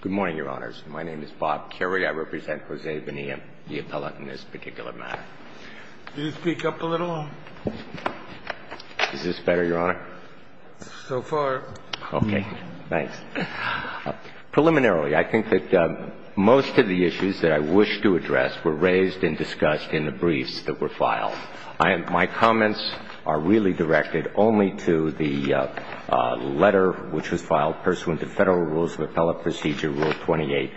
Good morning, Your Honors. My name is Bob Currie. I represent Jose Bonilla, the appellate in this particular matter. Can you speak up a little? Is this better, Your Honor? So far. Okay. Thanks. Preliminarily, I think that most of the issues that I wish to address were raised and discussed in the briefs that were filed. My comments are really directed only to the letter which was filed pursuant to Federal Rules of Appellate Procedure, Rule 28,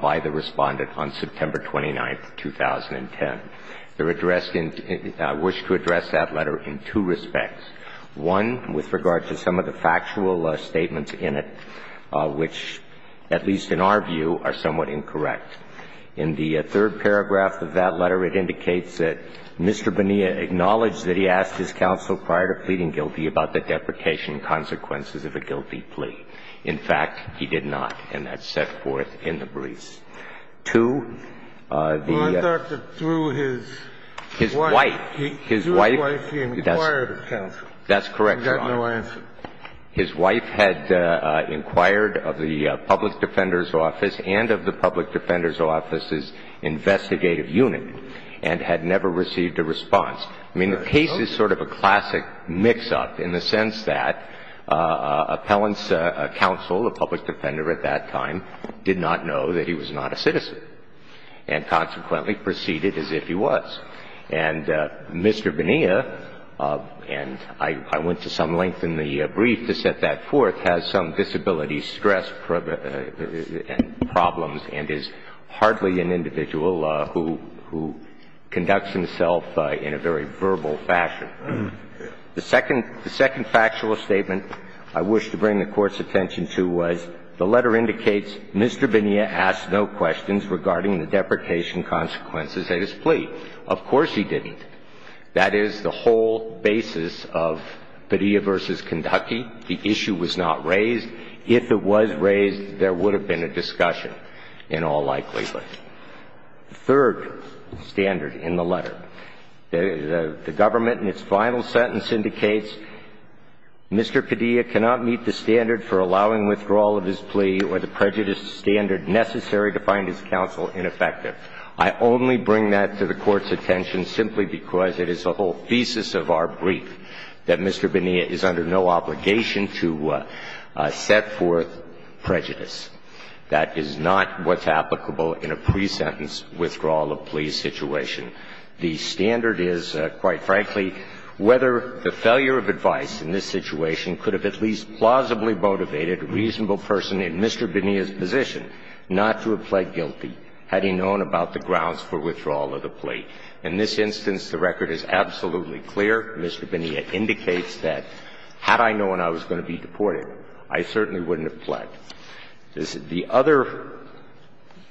by the Respondent on September 29, 2010. They're addressed in – wish to address that letter in two respects. One, with regard to some of the factual statements in it, which, at least in our view, are somewhat incorrect. In the third paragraph of that letter, it indicates that Mr. Bonilla acknowledged that he asked his counsel prior to pleading guilty about the deprecation consequences of a guilty plea. In fact, he did not, and that's set forth in the briefs. Two, the – Well, I thought that through his wife – His wife – Through his wife, he inquired of counsel. That's correct, Your Honor. He got no answer. His wife had inquired of the public defender's office and of the public defender's office's investigative unit and had never received a response. I mean, the case is sort of a classic mix-up in the sense that appellant's counsel, a public defender at that time, did not know that he was not a citizen and consequently proceeded as if he was. And Mr. Bonilla, and I went to some length in the brief to set that forth, has some disability stress problems and is hardly an individual who conducts himself in a very verbal fashion. The second – the second factual statement I wish to bring the Court's attention to was the letter indicates Mr. Bonilla asked no questions regarding the deprecation consequences of his plea. Of course he didn't. That is the whole basis of Padilla v. Kentucky. The issue was not raised. If it was raised, there would have been a discussion in all likelihood. The third standard in the letter, the Government in its final sentence indicates Mr. Padilla cannot meet the standard for allowing withdrawal of his plea or the prejudice standard necessary to find his counsel ineffective. I only bring that to the Court's attention simply because it is the whole thesis of our brief that Mr. Bonilla is under no obligation to set forth prejudice. That is not what's applicable in a pre-sentence withdrawal of plea situation. The standard is, quite frankly, whether the failure of advice in this situation could have at least plausibly motivated a reasonable person in Mr. Bonilla's position not to have pled guilty had he known about the grounds for withdrawal of the plea. In this instance, the record is absolutely clear. Mr. Bonilla indicates that had I known I was going to be deported, I certainly wouldn't have pled. The other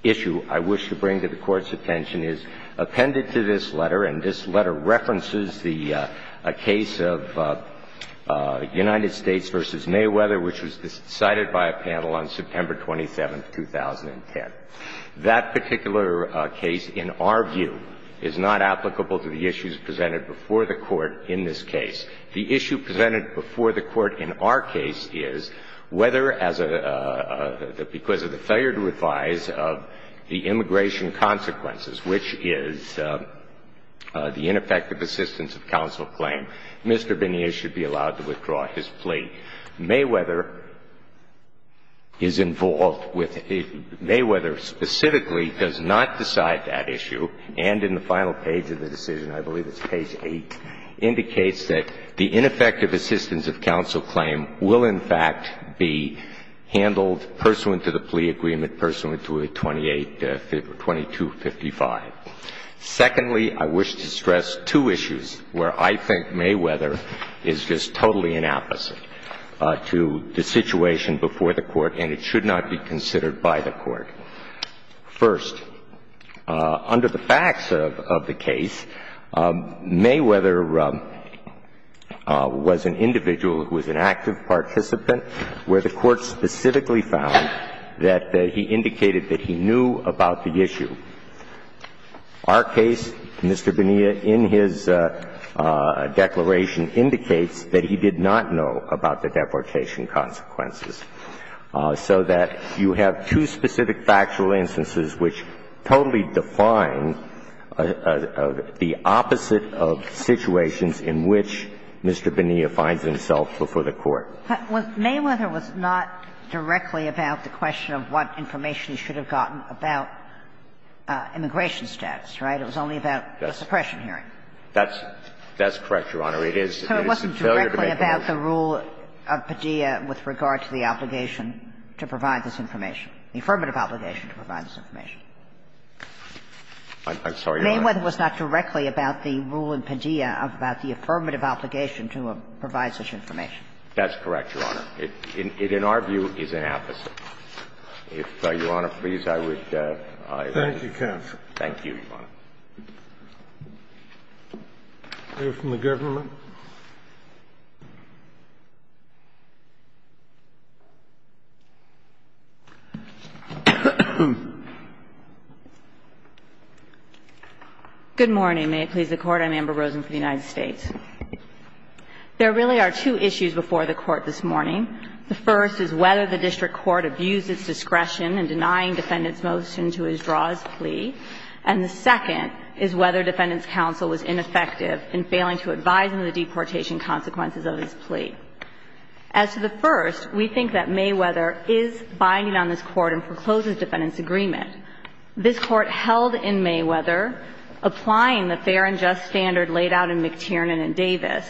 issue I wish to bring to the Court's attention is appended to this letter, and this letter references the case of United States v. Mayweather, which was decided by a panel on September 27, 2010. That particular case, in our view, is not applicable to the issues presented before the Court in this case. The issue presented before the Court in our case is whether, as a — because of the failure to advise of the immigration consequences, which is the ineffective assistance of counsel claim, Mr. Bonilla should be allowed to withdraw his plea. Mayweather is involved with — Mayweather specifically does not decide that issue, and in the final page of the decision, I believe it's page 8, indicates that the ineffective assistance of counsel claim will, in fact, be handled pursuant to the plea agreement, pursuant to 2255. Secondly, I wish to stress two issues where I think Mayweather is just totally inapplicable to the situation before the Court and it should not be considered by the Court. First, under the facts of the case, Mayweather was an individual who was an active participant where the Court specifically found that he indicated that he knew about the issue. Our case, Mr. Bonilla, in his declaration, indicates that he did not know about the deportation consequences, so that you have two specific factual instances which totally define the opposite of situations in which Mr. Bonilla finds himself before the Court. Mayweather was not directly about the question of what information he should have gotten about immigration status, right? It was only about a suppression hearing. That's correct, Your Honor. It is a failure to make a motion. So it wasn't directly about the rule of Padilla with regard to the obligation to provide this information, the affirmative obligation to provide this information? I'm sorry, Your Honor. Mayweather was not directly about the rule in Padilla about the affirmative obligation to provide such information. That's correct, Your Honor. It, in our view, is an opposite. If, Your Honor, please, I would like to. Thank you, counsel. Thank you, Your Honor. We have a question from the government. Good morning. May it please the Court. I'm Amber Rosen from the United States. There really are two issues before the Court this morning. The first is whether the district court abused its discretion in denying defendants' motion to withdraw his plea. And the second is whether defendants' counsel was ineffective in failing to advise them of the deportation consequences of his plea. As to the first, we think that Mayweather is binding on this Court and forecloses defendants' agreement. This Court held in Mayweather, applying the fair and just standard laid out in McTiernan and Davis,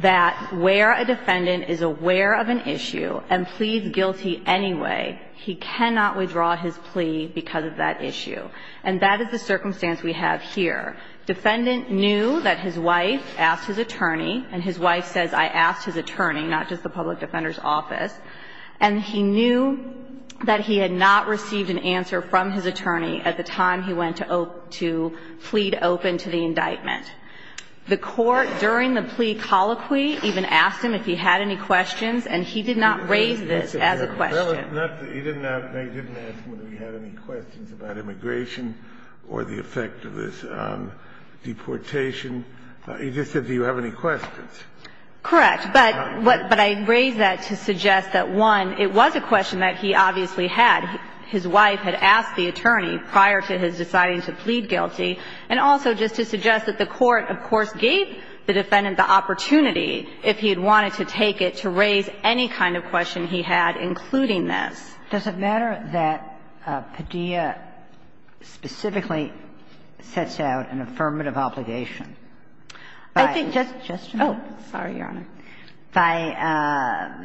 that where a defendant is aware of an issue and pleads guilty anyway, he cannot withdraw his plea because of that issue. And that is the circumstance we have here. Defendant knew that his wife asked his attorney, and his wife says, I asked his attorney, not just the public defender's office. And he knew that he had not received an answer from his attorney at the time he went to plead open to the indictment. The Court, during the plea colloquy, even asked him if he had any questions, and he did not raise this as a question. He didn't ask whether he had any questions about immigration or the effect of this deportation. He just said, do you have any questions. Correct. But I raise that to suggest that, one, it was a question that he obviously had. His wife had asked the attorney prior to his deciding to plead guilty. And also just to suggest that the Court, of course, gave the defendant the opportunity if he had wanted to take it to raise any kind of question he had, including this. Does it matter that Padilla specifically sets out an affirmative obligation by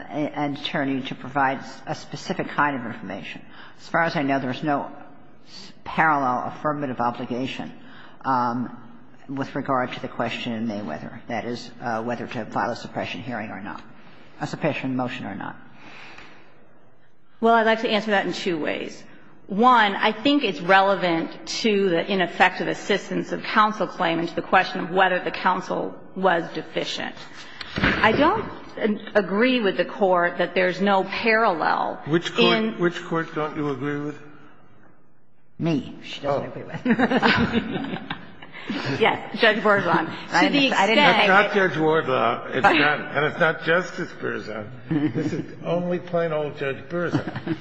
an attorney to provide a specific kind of information? I think just to make sure. As far as I know, there is no parallel affirmative obligation with regard to the question in May, whether that is whether to file a suppression hearing or not, a suppression motion or not. Well, I'd like to answer that in two ways. One, I think it's relevant to the ineffective assistance of counsel claim and to the question of whether the counsel was deficient. I don't agree with the Court that there's no parallel in. Which Court don't you agree with? Me. She doesn't agree with me. Yes. Judge Wardlaw. To the extent. It's not Judge Wardlaw. And it's not Justice Berzin. This is only plain old Judge Berzin.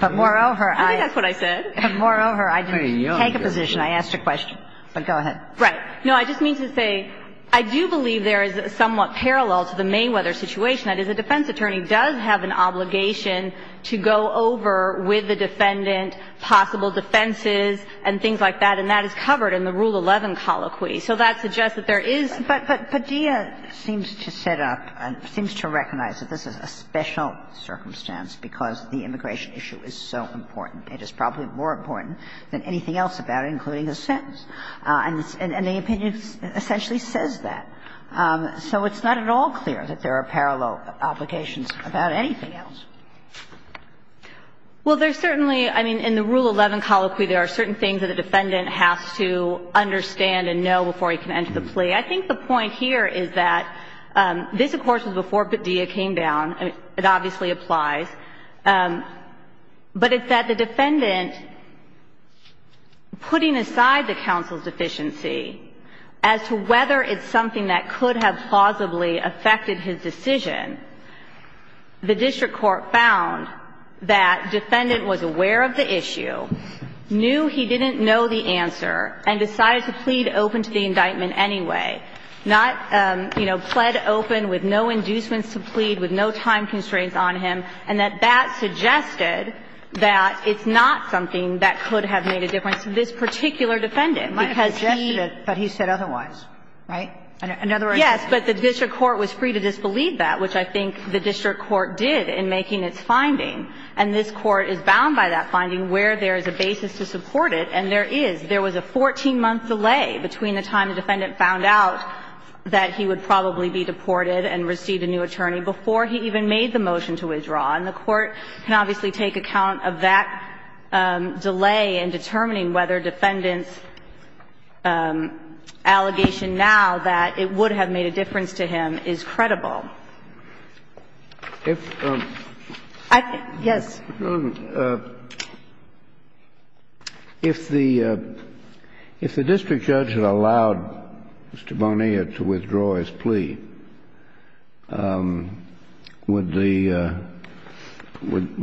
But moreover, I. I think that's what I said. But moreover, I didn't take a position. I asked a question. But go ahead. Right. No, I just mean to say, I do believe there is a somewhat parallel to the Mayweather situation. That is, a defense attorney does have an obligation to go over with the defendant possible defenses and things like that. And that is covered in the Rule 11 colloquy. So that suggests that there is. But Padilla seems to set up and seems to recognize that this is a special circumstance because the immigration issue is so important. It is probably more important than anything else about it, including the sentence. And the opinion essentially says that. So it's not at all clear that there are parallel obligations about anything else. Well, there's certainly. I mean, in the Rule 11 colloquy, there are certain things that the defendant has to understand and know before he can enter the plea. I think the point here is that this, of course, was before Padilla came down. It obviously applies. But it's that the defendant putting aside the counsel's deficiency as to whether it's something that could have plausibly affected his decision, the district court found that defendant was aware of the issue, knew he didn't know the answer and decided to plead open to the indictment anyway. Not, you know, pled open with no inducements to plead, with no time constraints on him, and that that suggested that it's not something that could have made a difference to this particular defendant because he. It might have suggested it, but he said otherwise. Right? In other words. Yes, but the district court was free to disbelieve that, which I think the district court did in making its finding. And this Court is bound by that finding where there is a basis to support it, and there is. There was a 14-month delay between the time the defendant found out that he would probably be deported and receive a new attorney before he even made the motion to withdraw. And the Court can obviously take account of that delay in determining whether the defendant's allegation now that it would have made a difference to him is credible. If. Yes. If the district judge had allowed Mr. Bonilla to withdraw his plea, would the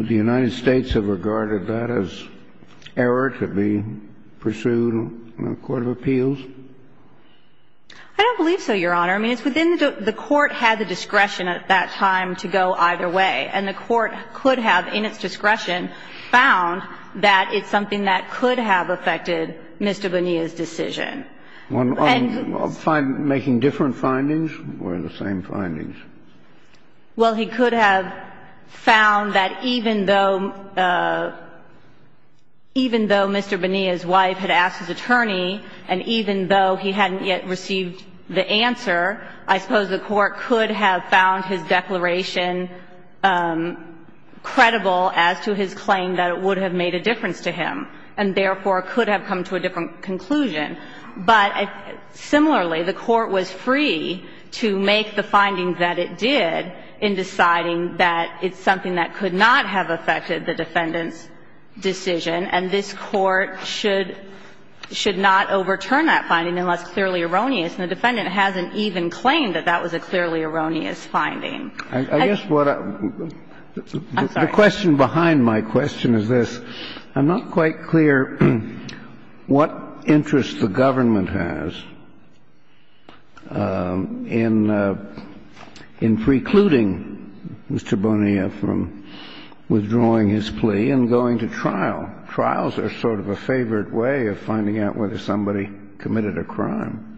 United States have regarded that as error to be pursued in a court of appeals? I don't believe so, Your Honor. I mean, it's within the court had the discretion at that time to go either way. And the court could have, in its discretion, found that it's something that could have affected Mr. Bonilla's decision. Making different findings or the same findings? Well, he could have found that even though Mr. Bonilla's wife had asked his attorney and even though he hadn't yet received the answer, I suppose the court could have found his declaration credible as to his claim that it would have made a difference to him, and therefore could have come to a different conclusion. But similarly, the court was free to make the finding that it did in deciding that it's something that could not have affected the defendant's decision, and this court should not overturn that finding unless clearly erroneous. And the defendant hasn't even claimed that that was a clearly erroneous finding. I guess what I'm sorry. The question behind my question is this. I'm not quite clear what interest the government has in precluding Mr. Bonilla from withdrawing his plea and going to trial. Trials are sort of a favored way of finding out whether somebody committed a crime.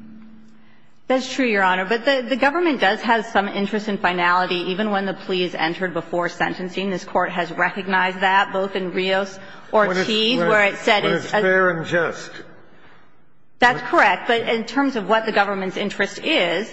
That's true, Your Honor. But the government does have some interest in finality even when the plea is entered before sentencing. This Court has recognized that both in Rios Ortiz, where it said it's a fair and just. That's correct. But in terms of what the government's interest is,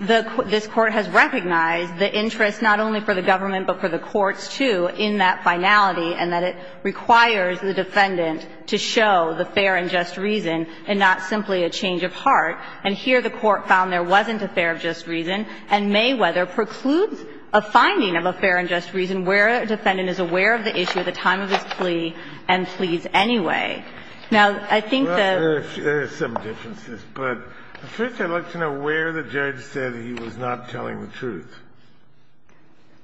this Court has recognized the interest not only for the government but for the courts, too, in that finality, and that it requires the defendant to show the fair and just reason and not simply a change of heart. And here the court found there wasn't a fair and just reason, and Mayweather precludes a finding of a fair and just reason where a defendant is aware of the issue at the time of his plea and pleads anyway. Now, I think that there's some differences, but first I'd like to know where the judge said he was not telling the truth.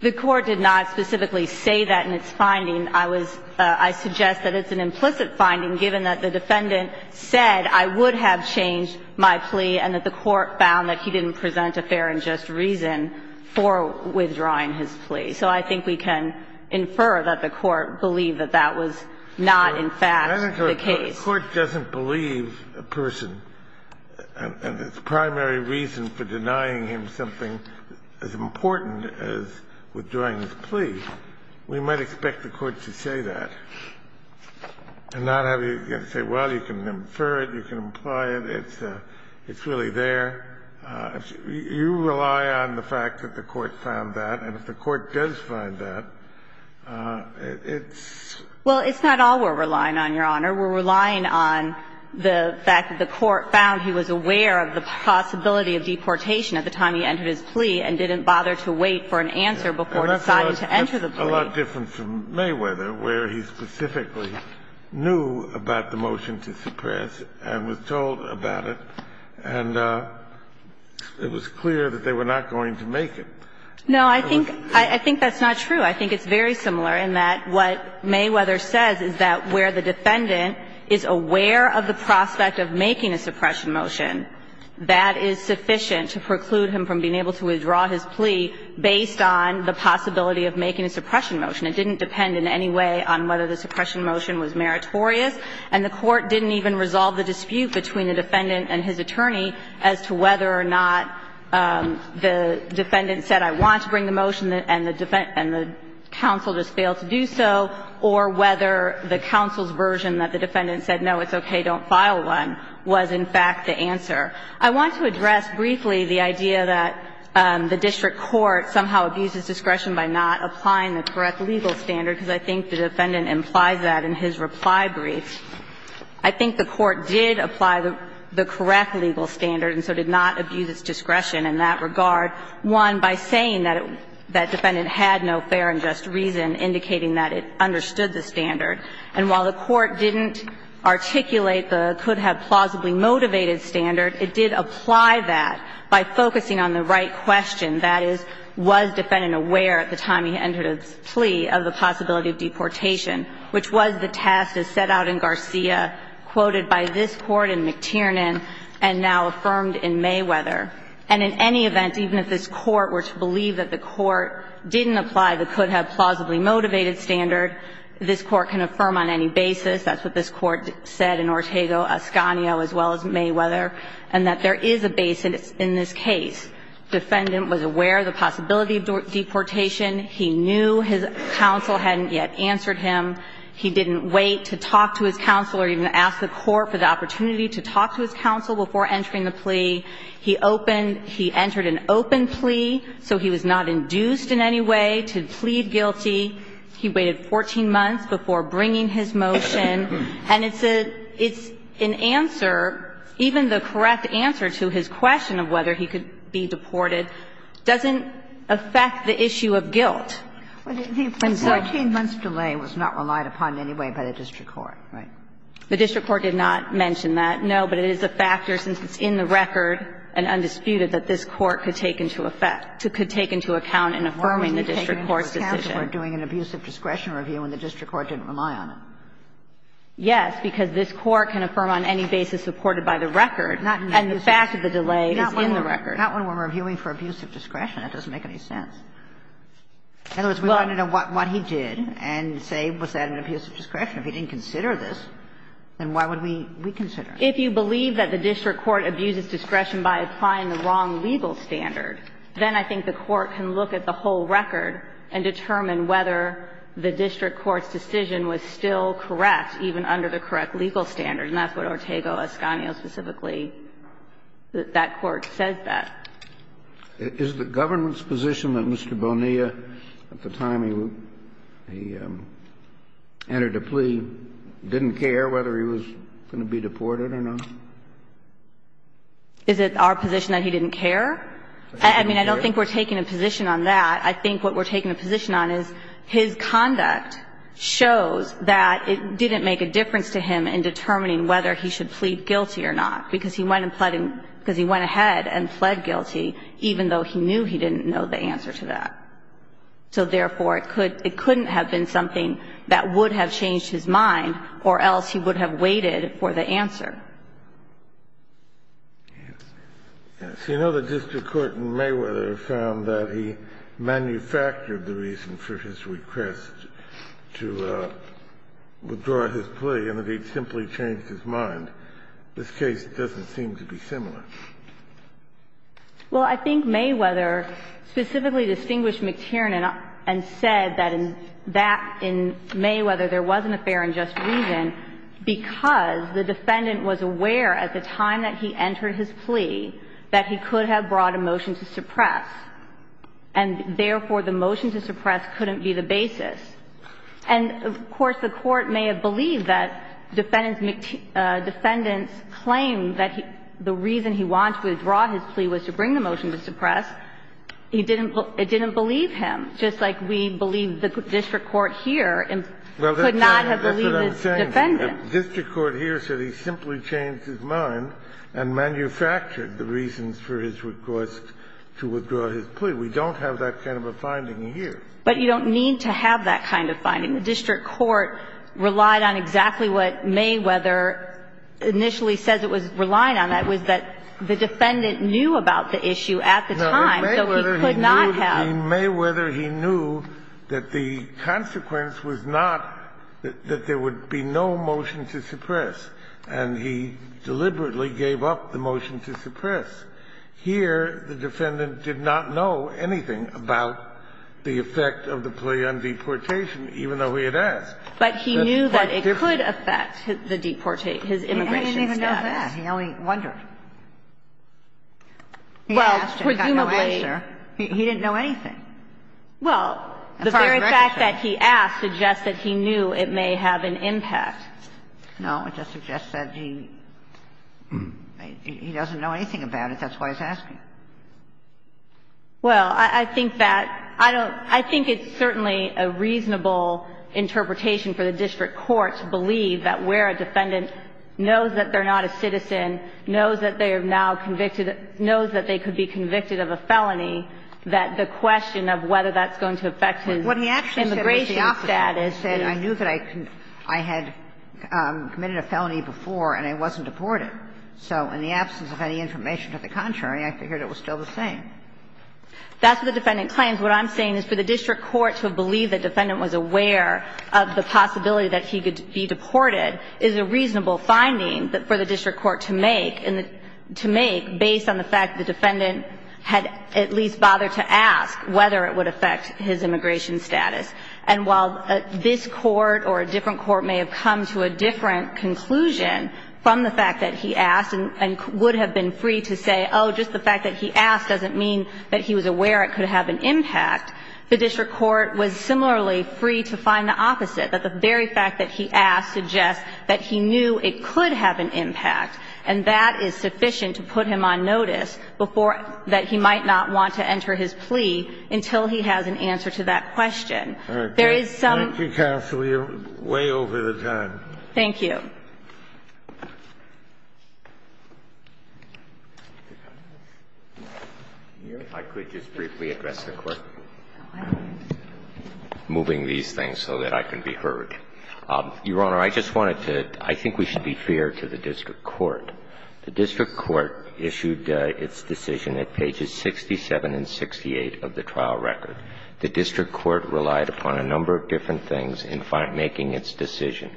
The Court did not specifically say that in its finding. I was – I suggest that it's an implicit finding given that the defendant said I would have changed my plea and that the Court found that he didn't present a fair and just reason for withdrawing his plea. So I think we can infer that the Court believed that that was not in fact the case. Kennedy, the Court doesn't believe a person, and its primary reason for denying him something as important as withdrawing his plea, we might expect the Court to say that and not have you say, well, you can infer it, you can imply it, it's really there. You rely on the fact that the Court found that, and if the Court does find that, it's – Well, it's not all we're relying on, Your Honor. We're relying on the fact that the Court found he was aware of the possibility of deportation at the time he entered his plea and didn't bother to wait for an answer before deciding to enter the plea. That's a lot different from Mayweather, where he specifically knew about the motion to suppress and was told about it. And it was clear that they were not going to make it. No, I think – I think that's not true. I think it's very similar in that what Mayweather says is that where the defendant is aware of the prospect of making a suppression motion, that is sufficient to preclude him from being able to withdraw his plea based on the possibility of making a suppression motion. It didn't depend in any way on whether the suppression motion was meritorious, and the Court didn't even resolve the dispute between the defendant and his attorney as to whether or not the defendant said, I want to bring the motion, and the defense – and the counsel just failed to do so, or whether the counsel's version that the defendant said, no, it's okay, don't file one, was in fact the answer. I want to address briefly the idea that the district court somehow abuses discretion by not applying the correct legal standard, because I think the defendant implies that in his reply brief. I think the Court did apply the correct legal standard and so did not abuse its discretion in that regard, one, by saying that the defendant had no fair and just reason, indicating that it understood the standard. And while the Court didn't articulate the could-have-plausibly-motivated standard, it did apply that by focusing on the right question, that is, was the defendant aware at the time he entered his plea of the possibility of deportation, which was the task as set out in Garcia, quoted by this Court in McTiernan, and now affirmed in Mayweather. And in any event, even if this Court were to believe that the Court didn't apply the could-have-plausibly-motivated standard, this Court can affirm on any basis, that's what this Court said in Ortego, Ascanio, as well as Mayweather, and that there is a basis in this case. Defendant was aware of the possibility of deportation. He knew his counsel hadn't yet answered him. He didn't wait to talk to his counsel or even ask the Court for the opportunity to talk to his counsel before entering the plea. He opened he entered an open plea, so he was not induced in any way to plead guilty. He waited 14 months before bringing his motion. And it's an answer, even the correct answer to his question of whether he could The 14-month delay was not relied upon in any way by the district court, right? The district court did not mention that, no, but it is a factor, since it's in the record and undisputed, that this Court could take into effect, could take into account in affirming the district court's decision. Why was he taking into account that we're doing an abuse of discretion review and the district court didn't rely on it? Yes, because this Court can affirm on any basis supported by the record, and the fact of the delay is in the record. Not when we're reviewing for abuse of discretion. It doesn't make any sense. In other words, we want to know what he did and say, was that an abuse of discretion. If he didn't consider this, then why would we consider it? If you believe that the district court abuses discretion by applying the wrong legal standard, then I think the court can look at the whole record and determine whether the district court's decision was still correct, even under the correct legal standard, and that's what Ortego-Escanio specifically, that that court says that. Kennedy, is the government's position that Mr. Bonilla, at the time he entered a plea, didn't care whether he was going to be deported or not? Is it our position that he didn't care? I mean, I don't think we're taking a position on that. I think what we're taking a position on is his conduct shows that it didn't make a difference to him in determining whether he should plead guilty or not, because he went ahead and pled guilty, even though he knew he didn't know the answer to that. So therefore, it couldn't have been something that would have changed his mind or else he would have waited for the answer. Yes. You know, the district court in Mayweather found that he manufactured the reason for his request to withdraw his plea, and that he simply changed his mind. This case doesn't seem to be similar. Well, I think Mayweather specifically distinguished McTiernan and said that in that – in Mayweather, there wasn't a fair and just reason because the defendant was aware at the time that he entered his plea that he could have brought a motion to suppress, and therefore, the motion to suppress couldn't be the basis. And, of course, the Court may have believed that defendants claimed that the reason he wanted to withdraw his plea was to bring the motion to suppress. It didn't believe him, just like we believe the district court here could not have believed the defendant. Well, that's what I'm saying. The district court here said he simply changed his mind and manufactured the reasons for his request to withdraw his plea. We don't have that kind of a finding here. But you don't need to have that kind of finding. The district court relied on exactly what Mayweather initially says it was relying on, that was that the defendant knew about the issue at the time, so he could not have. In Mayweather, he knew that the consequence was not that there would be no motion to suppress, and he deliberately gave up the motion to suppress. Here, the defendant did not know anything about the effect of the plea on deportation, even though he had asked. But he knew that it could affect the deportation, his immigration status. He didn't even know that. He only wondered. He asked and got no answer. He didn't know anything. Well, the very fact that he asked suggests that he knew it may have an impact. No, it just suggests that he doesn't know anything about it. That's why he's asking. Well, I think that that's certainly a reasonable interpretation for the district court to believe that where a defendant knows that they're not a citizen, knows that they are now convicted, knows that they could be convicted of a felony, that the question of whether that's going to affect his immigration status is. And I knew that I had committed a felony before, and I wasn't deported. So in the absence of any information to the contrary, I figured it was still the same. That's what the defendant claims. What I'm saying is for the district court to believe the defendant was aware of the possibility that he could be deported is a reasonable finding for the district court to make, and to make based on the fact that the defendant had at least bothered to ask whether it would affect his immigration status. And while this court or a different court may have come to a different conclusion from the fact that he asked and would have been free to say, oh, just the fact that he asked doesn't mean that he was aware it could have an impact, the district court was similarly free to find the opposite, that the very fact that he asked suggests that he knew it could have an impact, and that is sufficient to put him on notice before that he might not want to enter his plea until he has an answer to that question. There is some ---- Scalia, way over the time. Thank you. I could just briefly address the Court. I'm moving these things so that I can be heard. Your Honor, I just wanted to ---- I think we should be fair to the district court. The district court issued its decision at pages 67 and 68 of the trial record. The district court relied upon a number of different things in making its decision.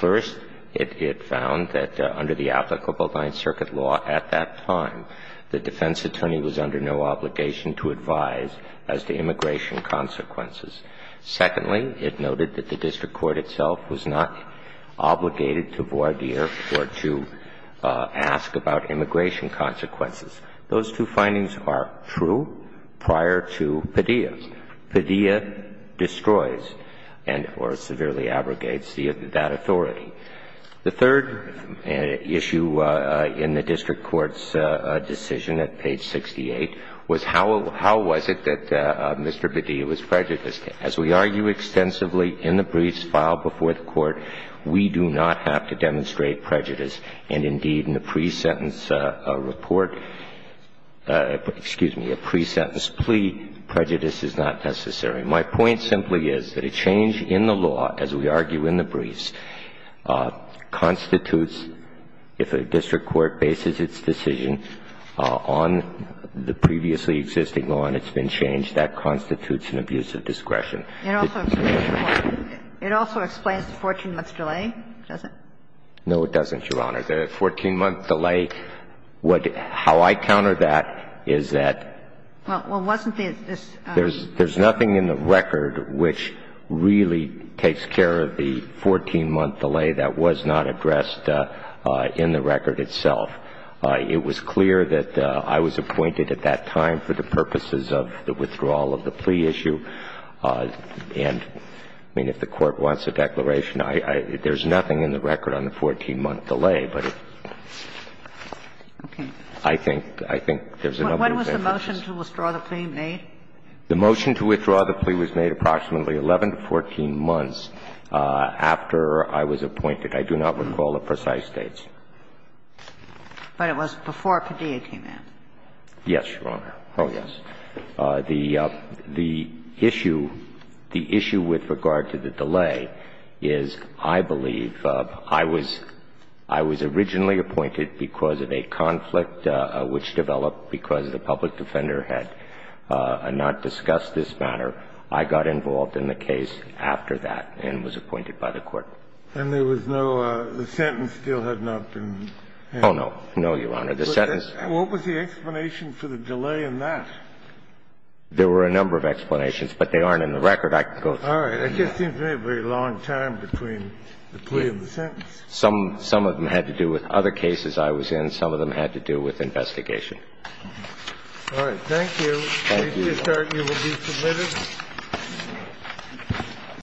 First, it found that under the applicable Ninth Circuit law at that time, the defense attorney was under no obligation to advise as to immigration consequences. Secondly, it noted that the district court itself was not obligated to voir dire or to ask about immigration consequences. Those two findings are true prior to Padilla. Padilla destroys and or severely abrogates that authority. The third issue in the district court's decision at page 68 was how was it that Mr. Padilla was prejudiced. As we argue extensively in the briefs filed before the Court, we do not have to demonstrate that there was a report, excuse me, a pre-sentence plea. Prejudice is not necessary. My point simply is that a change in the law, as we argue in the briefs, constitutes if a district court bases its decision on the previously existing law and it's been changed, that constitutes an abuse of discretion. It also explains the 14-month delay, does it? No, it doesn't, Your Honor. The 14-month delay, how I counter that is that there's nothing in the record which really takes care of the 14-month delay that was not addressed in the record itself. It was clear that I was appointed at that time for the purposes of the withdrawal of the plea issue. And, I mean, if the Court wants a declaration, there's nothing in the record on the 14-month delay, but I think there's a number of things that exist. When was the motion to withdraw the plea made? The motion to withdraw the plea was made approximately 11 to 14 months after I was appointed. I do not recall the precise dates. But it was before Padilla came in. Yes, Your Honor. Oh, yes. The issue, the issue with regard to the delay is, I believe, I was originally appointed because of a conflict which developed because the public defender had not discussed this matter. I got involved in the case after that and was appointed by the Court. And there was no – the sentence still had not been handed? Oh, no. No, Your Honor. The sentence – What was the explanation for the delay in that? There were a number of explanations, but they aren't in the record. I can go through them. All right. It just seems to me a very long time between the plea and the sentence. Some of them had to do with other cases I was in. Some of them had to do with investigation. All right. Thank you. Thank you, Your Honor. If you'll start, you will be submitted.